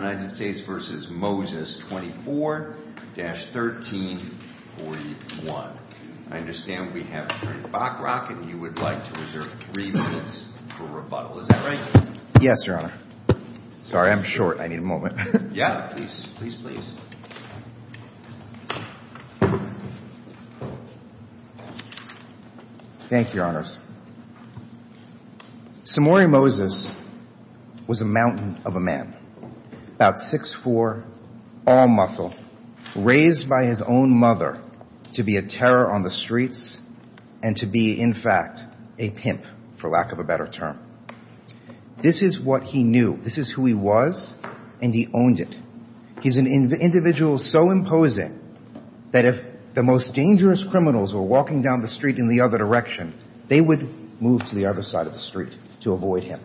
v. Moses 24-1341. I understand we have Mr. Bachrock and you would like to reserve 3 minutes for rebuttal. Is that right? Yes, Your Honor. Sorry, I'm short. I need a moment. Yeah, please. Thank you, Your Honors. Samori Moses was a mountain of a man. About 6'4", all muscle, raised by his own mother to be a terror on the streets and to be, in fact, a pimp, for lack of a better term. This is what he was. An individual so imposing that if the most dangerous criminals were walking down the street in the other direction, they would move to the other side of the street to avoid him.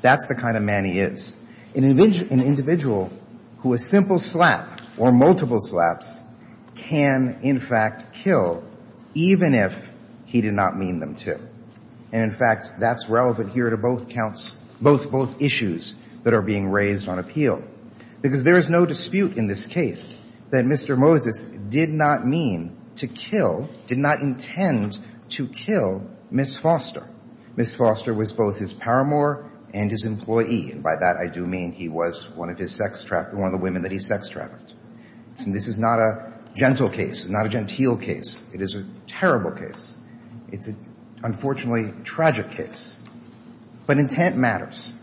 That's the kind of man he is. An individual who a simple slap or multiple slaps can, in fact, kill, even if he did not mean them to. And, in fact, that's relevant here to both issues that are being raised on appeal. Because there is no dispute in this case that Mr. Moses did not mean to kill, did not intend to kill Ms. Foster. Ms. Foster was both his paramour and his employee. And by that, I do mean he was one of the women that he sex trafficked. And this is not a gentle case, not a genteel case. It is a terrible case. It's an, unfortunately, tragic case. But intent matters.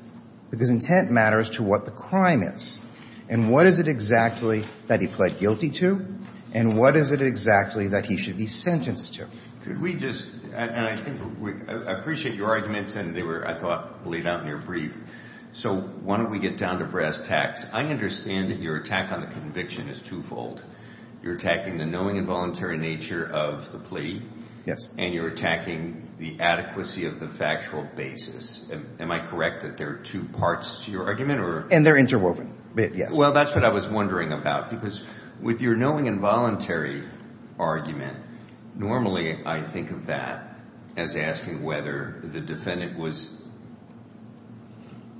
Because intent matters to what the crime is. And what is it exactly that he pled guilty to? And what is it exactly that he should be sentenced to? Could we just, and I think, I appreciate your arguments, and they were, I thought, laid out in your brief. So why don't we get down to brass tacks. I understand that your attack on the conviction is twofold. You're attacking the knowing and voluntary nature of the plea. Yes. And you're attacking the adequacy of the factual basis. Am I correct that there are two parts to your argument? And they're interwoven, yes. Well, that's what I was wondering about. Because with your knowing and voluntary argument, normally I think of that as asking whether the defendant was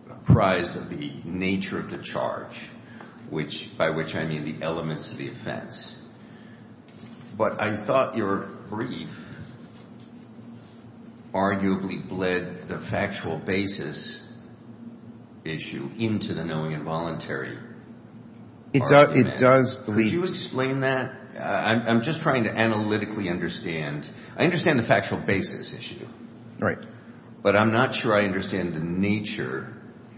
apprised of the nature of the charge, by which I mean the elements of the offense. But I thought your brief arguably bled the factual basis issue into the knowing and voluntary argument. Could you explain that? I'm just trying to analytically understand. I understand the factual basis issue. Right. But I'm not sure I understand the nature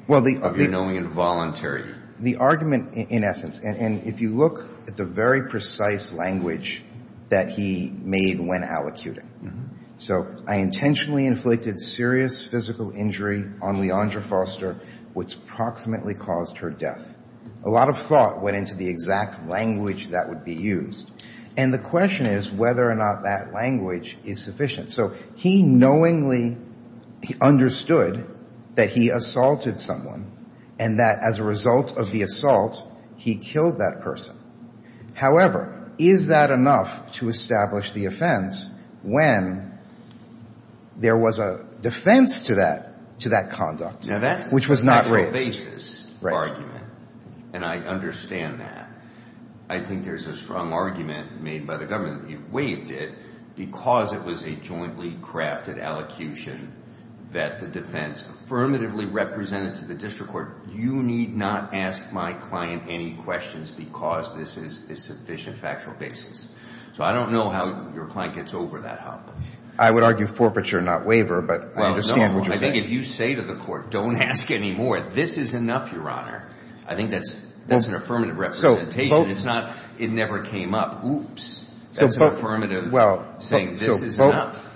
of your knowing and voluntary. The argument, in essence, and if you look at the very precise language that he made when allocuting. So I intentionally inflicted serious physical injury on Leandra Foster, which approximately caused her death. A lot of thought went into the exact language that he used. And the question is whether or not that language is sufficient. So he knowingly understood that he assaulted someone and that as a result of the assault, he killed that person. However, is that enough to establish the offense when there was a defense to that conduct, which was not race? Now, that's a factual basis argument. And I understand that. I think there's a strong argument made by the defense and by the government that he waived it because it was a jointly crafted allocution that the defense affirmatively represented to the district court, you need not ask my client any questions because this is a sufficient factual basis. So I don't know how your client gets over that hump. I would argue forfeiture, not waiver, but I understand what you're saying. Well, no. I think if you say to the court, don't ask any more, this is enough, Your Honor. I think that's an affirmative representation. It's not it never came up. Oops. That's an affirmative saying this is enough.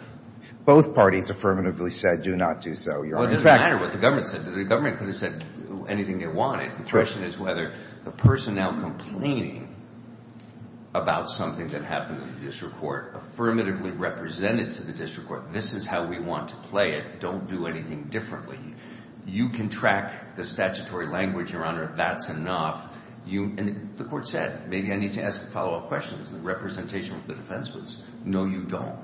Both parties affirmatively said do not do so, Your Honor. Well, it doesn't matter what the government said. The government could have said anything they wanted. The question is whether the person now complaining about something that happened in the district court, affirmatively represented to the district court, this is how we want to play it, don't do anything differently. You can track the statutory language, Your Honor, that's enough. And the court said, maybe I need to ask a follow-up question. The representation of the defense was, no, you don't.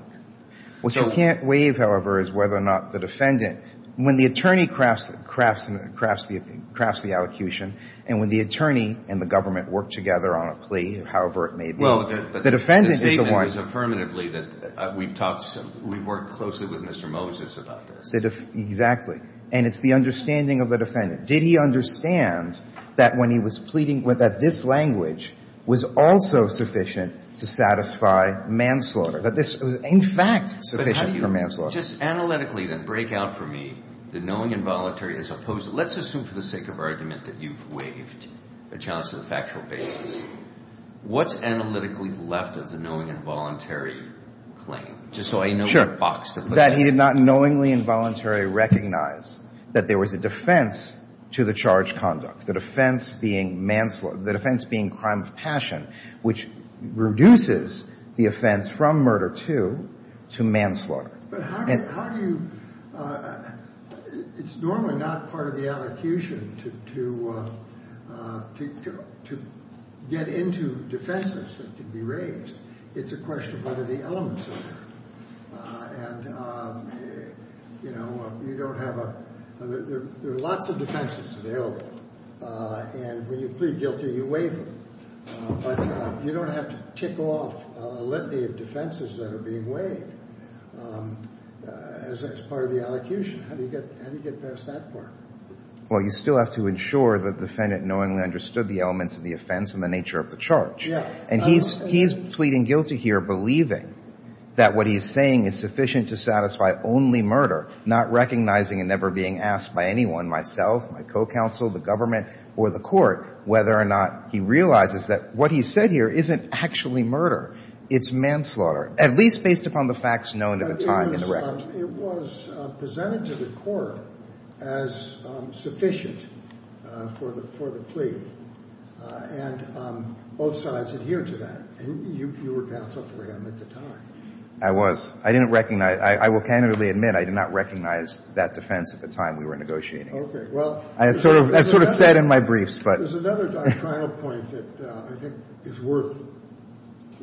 What you can't waive, however, is whether or not the defendant, when the attorney crafts the allocution and when the attorney and the government work together on a plea, however it may be, the defendant is the one. Well, the statement was affirmatively that we've talked, we've worked closely with Mr. Moses about this. Exactly. And it's the understanding of the defendant. Did he understand that when he was pleading, that this language was also sufficient to satisfy manslaughter, that this was, in fact, sufficient for manslaughter? But how do you just analytically then break out for me the knowing and voluntary as opposed to, let's assume for the sake of argument that you've waived a chance to the factual basis. What's analytically left of the knowing and voluntary claim, just so I know where the box is? Sure. That he did not knowingly and voluntarily recognize that there was a defense to the charge of manslaughter conduct, the defense being crime of passion, which reduces the offense from murder to manslaughter. But how do you, it's normally not part of the allocution to get into defenses that can be raised. It's a question of whether the elements are there. And, you know, you don't have a, there are lots of defenses available. And when you plead guilty, you waive them. But you don't have to tick off a litany of defenses that are being waived as part of the allocution. How do you get past that part? Well, you still have to ensure that the defendant knowingly understood the elements of the offense and the nature of the charge. And he's pleading guilty here, believing that what he's saying is sufficient to satisfy only murder, not recognizing and never being asked by anyone, myself, my co-counsel, the government, or the court, whether or not he realizes that what he said here isn't actually murder. It's manslaughter, at least based upon the facts known at the time in the record. It was presented to the court as sufficient for the plea. And both sides adhered to that. And you were the co-counsel for him at the time. I was. I didn't recognize, I will candidly admit, I did not recognize that defense at the time we were negotiating. Okay. Well... I sort of said in my briefs, but... There's another doctrinal point that I think is worth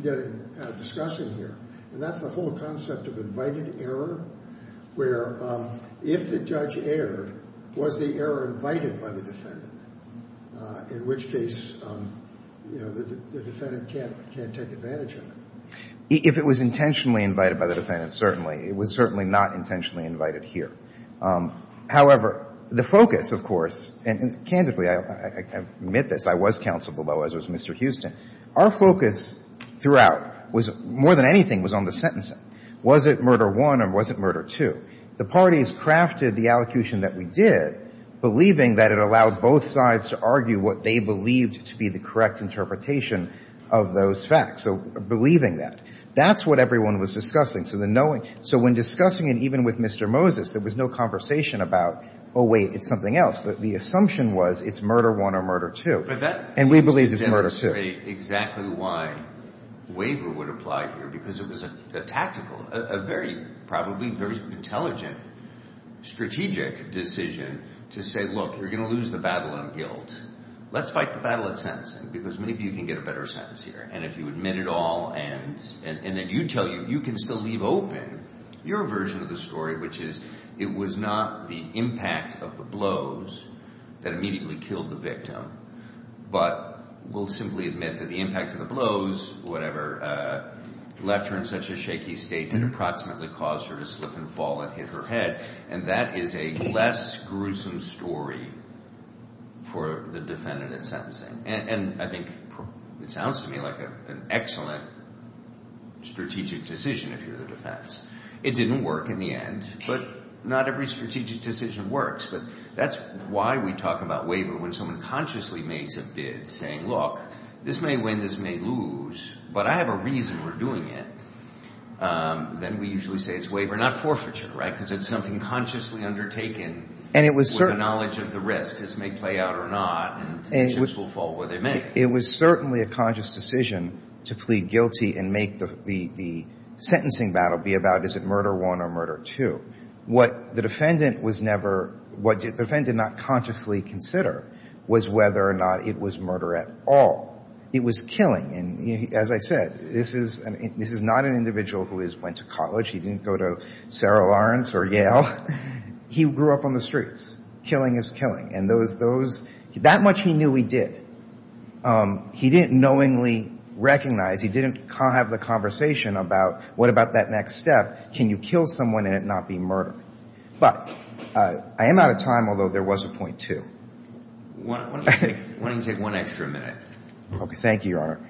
getting discussion here. And that's the whole concept of invited error, where if the judge erred, was the error invited by the defendant, in which case, you know, if it was intentionally invited by the defendant, certainly. It was certainly not intentionally invited here. However, the focus, of course, and candidly, I admit this, I was counsel below, as was Mr. Houston, our focus throughout was, more than anything, was on the sentencing. Was it murder one or was it murder two? The parties crafted the allocution that we did, believing that it allowed both sides to argue what they believed to be the correct interpretation of those facts. So believing that. That's what everyone was discussing. So the knowing... So when discussing it, even with Mr. Moses, there was no conversation about, oh, wait, it's something else. The assumption was, it's murder one or murder two. And we believe it's murder two. But that seems to demonstrate exactly why waiver would apply here. Because it was a tactical, a very, probably very intelligent, strategic decision to say, look, you're going to lose the battle on guilt. Let's do it. Let's do it. Let's do it. Let's fight the battle of sentencing because maybe you can get a better sentence here. And if you admit it all and then you tell you, you can still leave open your version of the story, which is, it was not the impact of the blows that immediately killed the victim. But we'll simply admit that the impact of the blows, whatever, left her in such a shaky state that approximately caused her to slip and fall and hit her head. And that is a less gruesome story for the defendant in sentencing. And I think it sounds to me like an excellent strategic decision if you're the defense. It didn't work in the end, but not every strategic decision works. But that's why we talk about waiver when someone consciously makes a bid saying, look, this may win, this may lose, but I have a reason we're doing it. Then we usually say it's waiver, not forfeiture. Because it's something consciously undertaken with a knowledge of the risk, this may play out or not, and the chips will fall where they may. It was certainly a conscious decision to plead guilty and make the sentencing battle be about, is it murder one or murder two. What the defendant did not consciously consider was whether or not it was murder at all. It was killing. And as I said, this is not an individual who just went to college. He didn't go to Sarah Lawrence or Yale. He grew up on the streets. Killing is killing. And that much he knew he did. He didn't knowingly recognize, he didn't have the conversation about what about that next step, can you kill someone and it not be murder. But I am out of time, although there was a point, too. Why don't you take one extra minute. Okay. Thank you, Your Honor.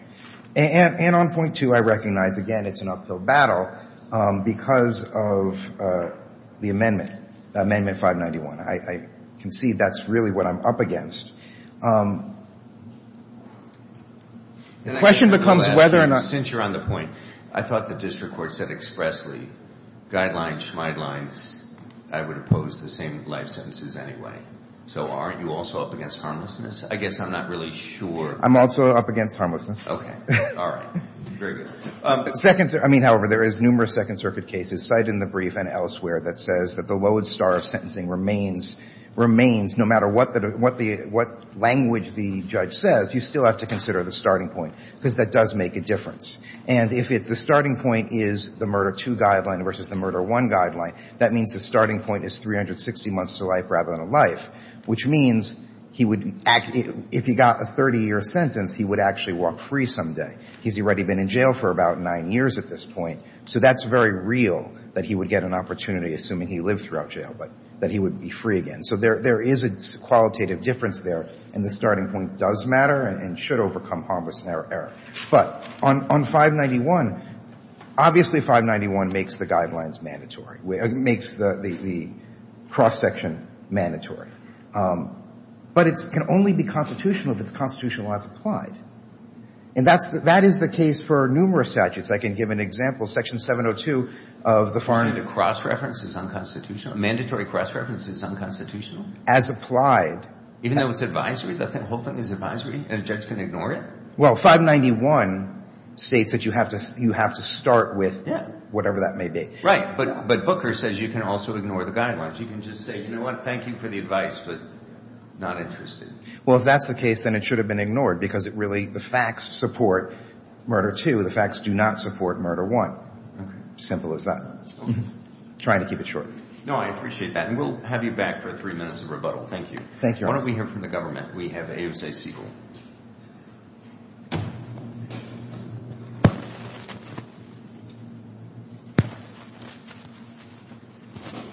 And on point two, I recognize, again, it's an uphill battle because of the amendment, amendment 591. I can see that's really what I'm up against. The question becomes whether or not. Since you're on the point, I thought the district court said expressly, guidelines, schmied lines, I would oppose the same life sentences anyway. So aren't you also up against harmlessness? I guess I'm not really sure. I'm also up against harmlessness. Okay. All right. Very good. I mean, however, there is numerous Second Circuit cases cited in the brief and elsewhere that says that the lodestar of sentencing remains no matter what language the judge says, you still have to consider the starting point because that does make a difference. And if it's the starting point is the murder two guideline versus the murder one guideline, that means the starting point is 360 months to life rather than a life, which means that he would, if he got a 30-year sentence, he would actually walk free someday. He's already been in jail for about nine years at this point. So that's very real that he would get an opportunity, assuming he lived throughout jail, but that he would be free again. So there is a qualitative difference there, and the starting point does matter and should overcome harmless error. But on 591, obviously, 591 makes the guidelines mandatory. It makes the cross-section mandatory. But it can only be constitutional if it's constitutional as applied. And that is the case for numerous statutes. I can give an example. Section 702 of the foreign law. Cross-reference is unconstitutional? Mandatory cross-reference is unconstitutional? As applied. Even though it's advisory? The whole thing is advisory? And a judge can ignore it? Well, 591 states that you have to start with whatever that may be. Right. But Booker says you can also ignore the guidelines. You can just say, you know what, thank you for the advice, but not interested. Well, if that's the case, then it should have been ignored because it really, the facts support murder two. The facts do not support murder one. Simple as that. Trying to keep it short. No, I appreciate that. And we'll have you back for three minutes of rebuttal. Thank you. Why don't we hear from the government? We have AOC Siegel.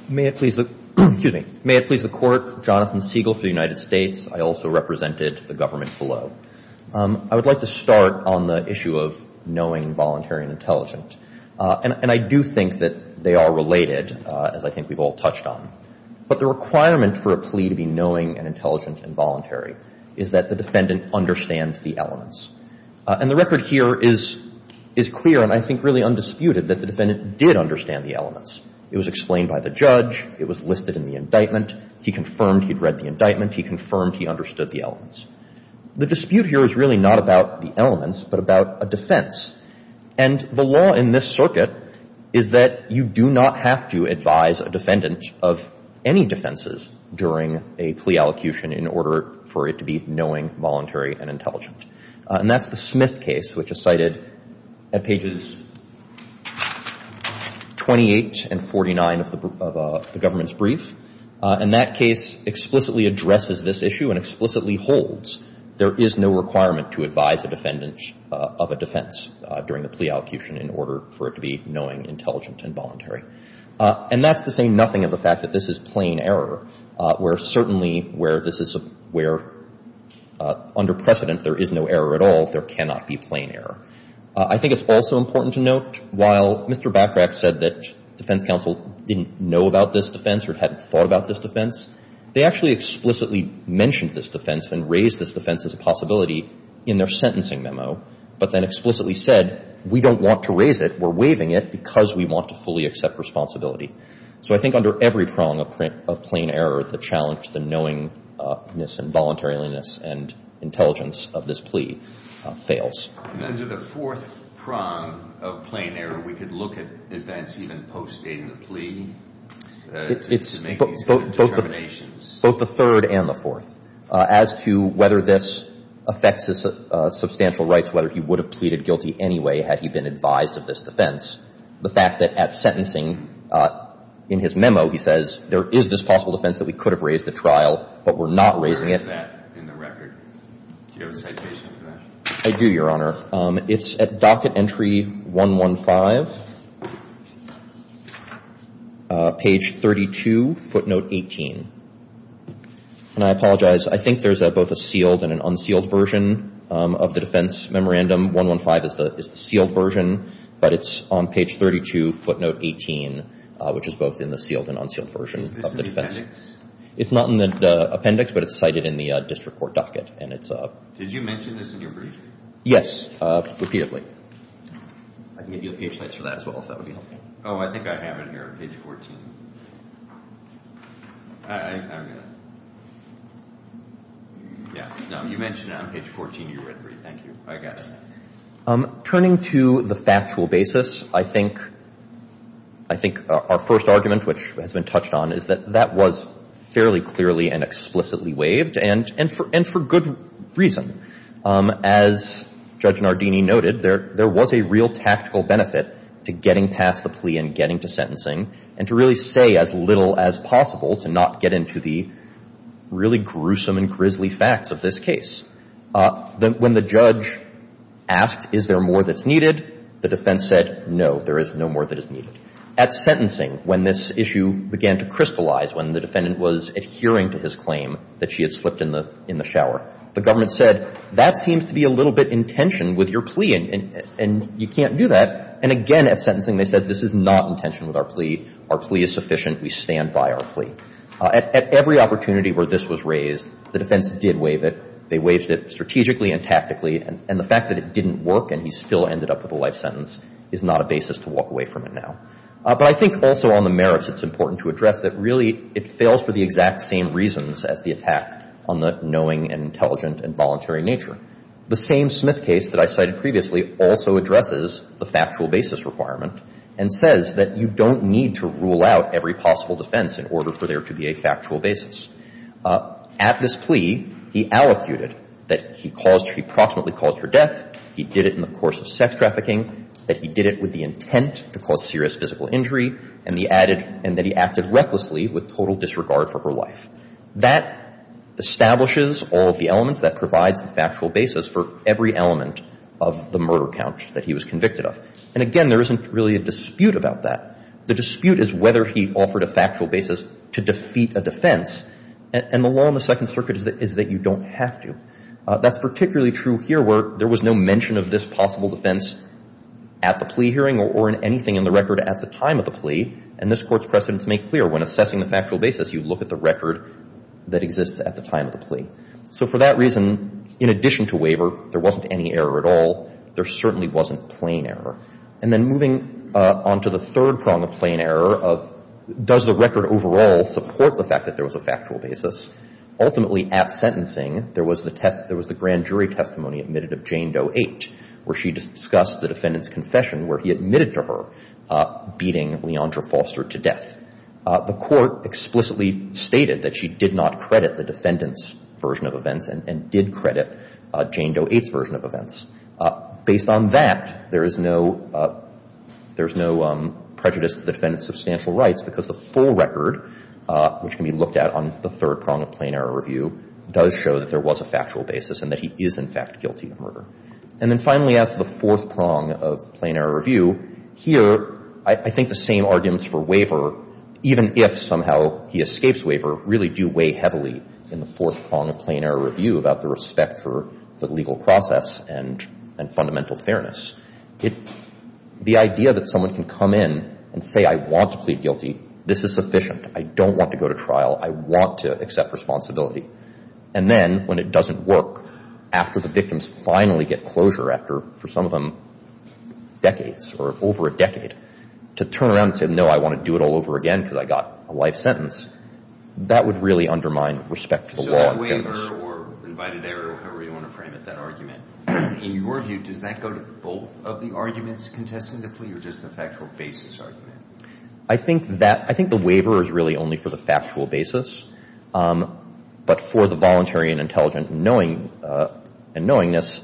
May it please the Court, Jonathan Siegel for the United States. I also represented the government below. I would like to start on the issue of knowing, voluntary, and intelligent. And I do think that they are related, as I think we've all touched on. But the requirement for a plea to be knowing and intelligent and voluntary is that the defendant understands the elements. And the record here is clear and I think really undisputed that the defendant did understand the elements. It was explained by the judge. It was listed in the indictment. He confirmed he'd read the indictment. It's not about the elements, but about a defense. And the law in this circuit is that you do not have to advise a defendant of any defenses during a plea allocution in order for it to be knowing, voluntary, and intelligent. And that's the Smith case, which is cited at pages 28 and 49 of the government's brief. And that case explicitly addresses this issue and explicitly holds there is no requirement to advise a defendant of a defense during a plea allocution in order for it to be knowing, intelligent, and voluntary. And that's to say nothing of the fact that this is plain error, where certainly where this is where under precedent there is no error at all, there cannot be plain error. I think it's also important to note, while Mr. Bachrach said that defense counsel didn't know about this defense or hadn't thought about this defense, they actually explicitly mentioned this defense and raised this defense as a possibility in their sentencing memo, but then explicitly said, we don't want to raise it. We're waiving it because we want to fully accept responsibility. So I think under every prong of plain error, the challenge, the knowingness and voluntariliness and intelligence of this plea fails. And then to the fourth prong of plain error, we could look at events even post-dating the plea to make these kind of determinations. Both the third and the fourth. As to whether this affects his substantial rights, whether he would have pleaded guilty anyway had he been advised of this defense, the fact that at sentencing, in his memo, he says, there is this possible defense that we could have raised at trial, but we're not raising it. Do you have a citation for that? I do, Your Honor. It's at docket entry 115, page 32, footnote 18. And I'm not going to read that. I'm just going to read the citation. And I apologize. I think there's both a sealed and an unsealed version of the defense memorandum. 115 is the sealed version, but it's on page 32, footnote 18, which is both in the sealed and unsealed version of the defense. It's not in the appendix, but it's cited in the district court docket. Did you mention this in your brief? Yes, repeatedly. I can give you a page later for that as well, if that would be helpful. Oh, I think I have it here, page 14. I'm going to... Yeah. No, you mentioned it on page 14 of your brief. Thank you. I got it. Turning to the factual basis, I think our first argument, which has been touched on, is that that was fairly clearly and explicitly a good reason. As Judge Nardini noted, there was a real tactical benefit to getting past the plea and getting to sentencing and to really say as little as possible to not get into the really gruesome and grisly facts of this case. When the judge asked, is there more that's needed, the defense said, no, there is no more that is needed. At sentencing, when this issue began to crystallize, when the defendant was adhering to his claim that she had slipped in the shower, the government said, that seems to be a little bit in tension with your plea and you can't do that. And again, at sentencing, they said, this is not in tension with our plea. Our plea is sufficient. We stand by our plea. At every opportunity where this was raised, the defense did waive it. They waived it strategically and tactically. And the fact that it didn't work and he still ended up with a life sentence is not a basis to walk away from it now. But I think also on the merits, it's important to address that really it fails for the exact same reasons as the attack on the knowing and intelligent and voluntary nature. The same Smith case that I cited previously also addresses the factual basis requirement and says that you don't need to rule out every possible defense in order for there to be a factual basis. At this plea, he allocuted that he caused, he proximately caused her death. He did it in the course of sex trafficking, that he did it with the intent to cause serious physical injury, and that he acted recklessly with total disregard for her life. That establishes all of the elements that provides the factual basis for every element of the murder count that he was convicted of. And again, there isn't really a dispute about that. The dispute is whether he offered a factual basis to defeat a defense. And the law in the Second Circuit is that you don't have to. That's particularly true here where there was no mention of this possible defense at the plea hearing or in anything in the record at the time of the plea. And this Court's precedent to make clear when assessing the factual basis, you look at the record that exists at the time of the plea. So for that reason, in addition to waiver, there wasn't any error at all. There certainly wasn't plain error. And then moving on to the third prong of plain error of does the record overall support the fact that there was a factual basis? Ultimately, at sentencing, there was the grand jury testimony admitted of Jane Doe 8 where she discussed the defendant's confession where he admitted to her beating Leandra Foster to death. The Court explicitly stated that she did not credit the defendant's version of events and did credit Jane Doe 8's version of events. Based on that, there is no prejudice to the defendant's substantial rights because the full record, which can be looked at on the third prong of plain error review, does show that there was a factual basis and that he is, in fact, guilty of murder. And then finally, as to the fourth prong of plain error review, here I think the same arguments for waiver, even if somehow he escapes waiver, really do weigh heavily in the fourth prong of plain error review about the respect for the legal process and fundamental fairness. The idea that someone can come in and say, I want to plead guilty. This is sufficient. I don't want to go to trial. I want to accept responsibility. And then, when it doesn't work, after the victims finally get closure, after, for some of them, decades or over a decade, to turn around and say, no, I want to do it all over again because I got a life sentence, that would really undermine respect for the law. So waiver or invited error, however you want to frame it, that argument, in your view, does that go to both of the arguments contesting the plea or just the factual basis argument? I think the waiver is really only for the factual basis. But for the voluntary and intelligent knowing and knowingness,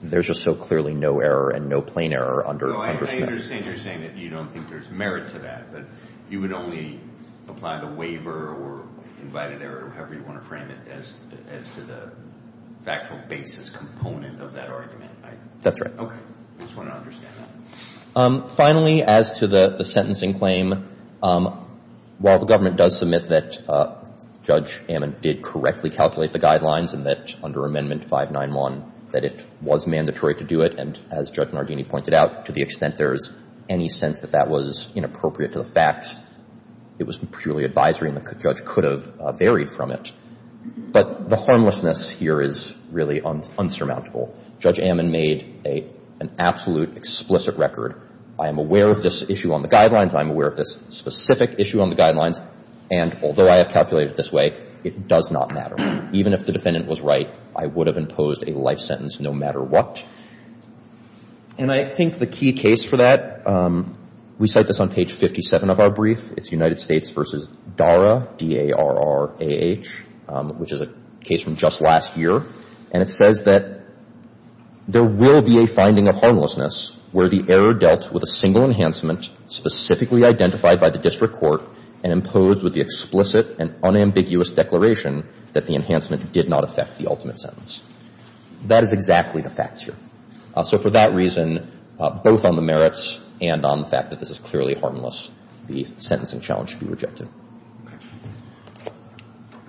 there's just so clearly no error and no plain error under Smith. I understand you're saying that you don't think there's merit to that, but you would only apply the waiver or invited error, however you want to frame it, as to the factual basis component of that argument. That's right. Okay. I just want to understand that. Finally, as to the sentencing claim, while the government does submit that Judge Ammon did correctly calculate the guidelines and that, under Amendment 591, that it was mandatory to do it and, as Judge Nardini pointed out, to the extent there is any sense that that was inappropriate to the facts, it was purely advisory and the judge could have varied from it. But the harmlessness here is really insurmountable. Judge Ammon made an absolute explicit record. I am aware of this issue on the guidelines. I am aware of this specific issue on the guidelines. And although I have calculated it this way, it does not matter. Even if the defendant was right, I would have imposed a life sentence no matter what. And I think the key case for that, we cite this on page 57 of our brief. It's United States v. Darrah, D-A-R-R-A-H, which is a case from just last year. And it says that there will be a finding of harmlessness where the error dealt with a single enhancement specifically identified by the district court and imposed with the explicit and unambiguous declaration that the enhancement did not affect the ultimate sentence. That is exactly the facts here. So for that reason, both on the merits and on the fact that this is clearly harmless, the sentencing challenge should be rejected. Okay.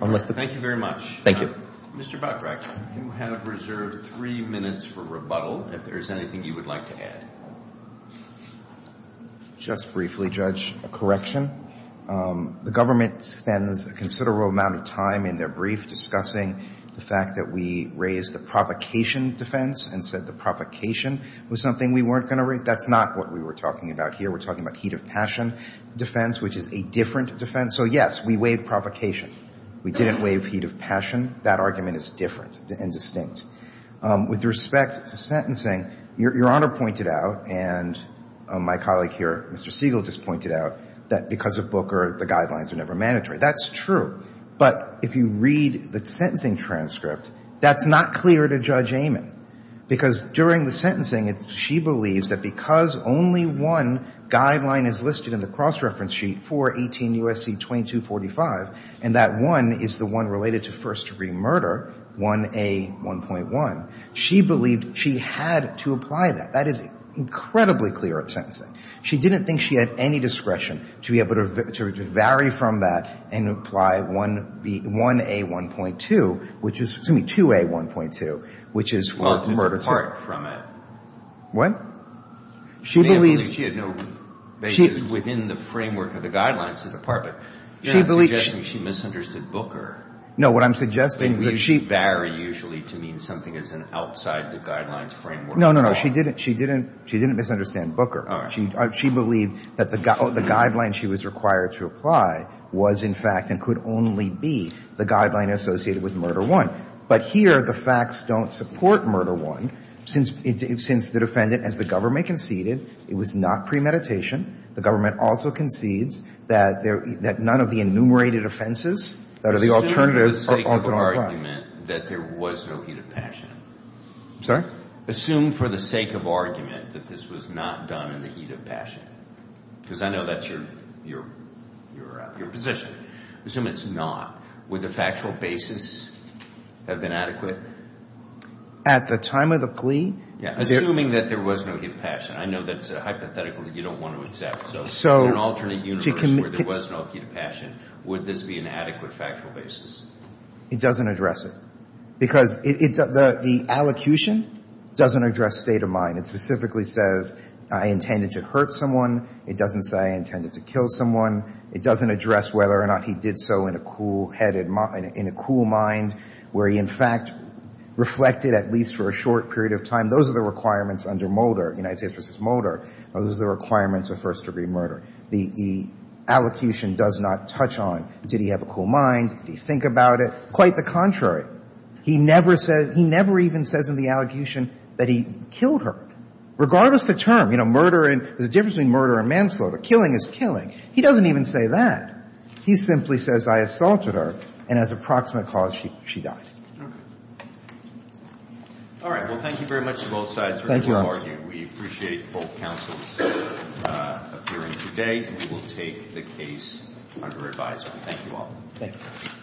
Thank you very much. Thank you. Mr. Buttrack, you have reserved three minutes for rebuttal. If there is anything you would like to add. Just briefly, Judge, a correction. The government spends a considerable amount of time in their brief discussing the fact that we raised the provocation defense and said the provocation was something we weren't going to raise. That's not what we were talking about here. We're talking about heat of passion defense, which is a different defense. So, yes, we waived provocation. We didn't waive heat of passion. That argument is different and distinct. With respect to sentencing, Your Honor pointed out, and my colleague here, Mr. Siegel, just pointed out, that because of Booker, the guidelines are never mandatory. That's true. But if you read the sentencing transcript, that's not clear to Judge Amon because during the sentencing, she believes that because only one guideline is listed in the cross-reference sheet for 18 U.S.C. 2245, and that one is the one related to first-degree murder, 1A.1.1, she believed she had to apply that. That is incredibly clear at sentencing. She didn't think she had any discretion to be able to vary from that and apply 1A.1.2, which is, excuse me, 2A.1.2, which is for murder too. Well, to depart from it. What? She believed... She had no basis within the framework of the guidelines to depart. You're not suggesting she misunderstood Booker. No, what I'm suggesting is that she... They vary usually to mean something as an outside-the-guidelines framework. No, no, no. She didn't misunderstand Booker. She believed that the guideline she was required to apply was, in fact, and could only be the guideline associated with Murder 1. But here, the facts don't support Murder 1 since the defendant, as the government conceded, it was not premeditation. The government also concedes that none of the enumerated offenses that are the alternative... Assume for the sake of argument that there was no heat of passion. I'm sorry? Assume for the sake of argument that this was not done in the heat of passion. Because I know that's your position. Assume it's not. Would the factual basis have been adequate? At the time of the plea? Assuming that there was no heat of passion. I know that's a hypothetical that you don't want to accept. In an alternate universe where there was no heat of passion, would this be an adequate factual basis? It doesn't address it. Because the allocution doesn't address state of mind. It specifically says, I intended to hurt someone. It doesn't say I intended to kill someone. It doesn't address whether or not he did so in a cool-headed mind, in a cool mind, where he in fact reflected at least for a short period of time. Those are the requirements under Mulder, United States v. Mulder. Those are the requirements of first-degree murder. The allocution does not touch on, did he have a cool mind? Did he think about it? Quite the contrary. He never says, he never even says in the allocution that he killed her. Regardless of the term. You know, murder and... There's a difference between murder and manslaughter. Killing is killing. He doesn't even say that. He simply says, I assaulted her and as approximate cause, she died. Okay. All right. Well, thank you very much to both sides for your argument. We appreciate both counsels appearing today. We will take the case under revisal. Thank you all. Thank you.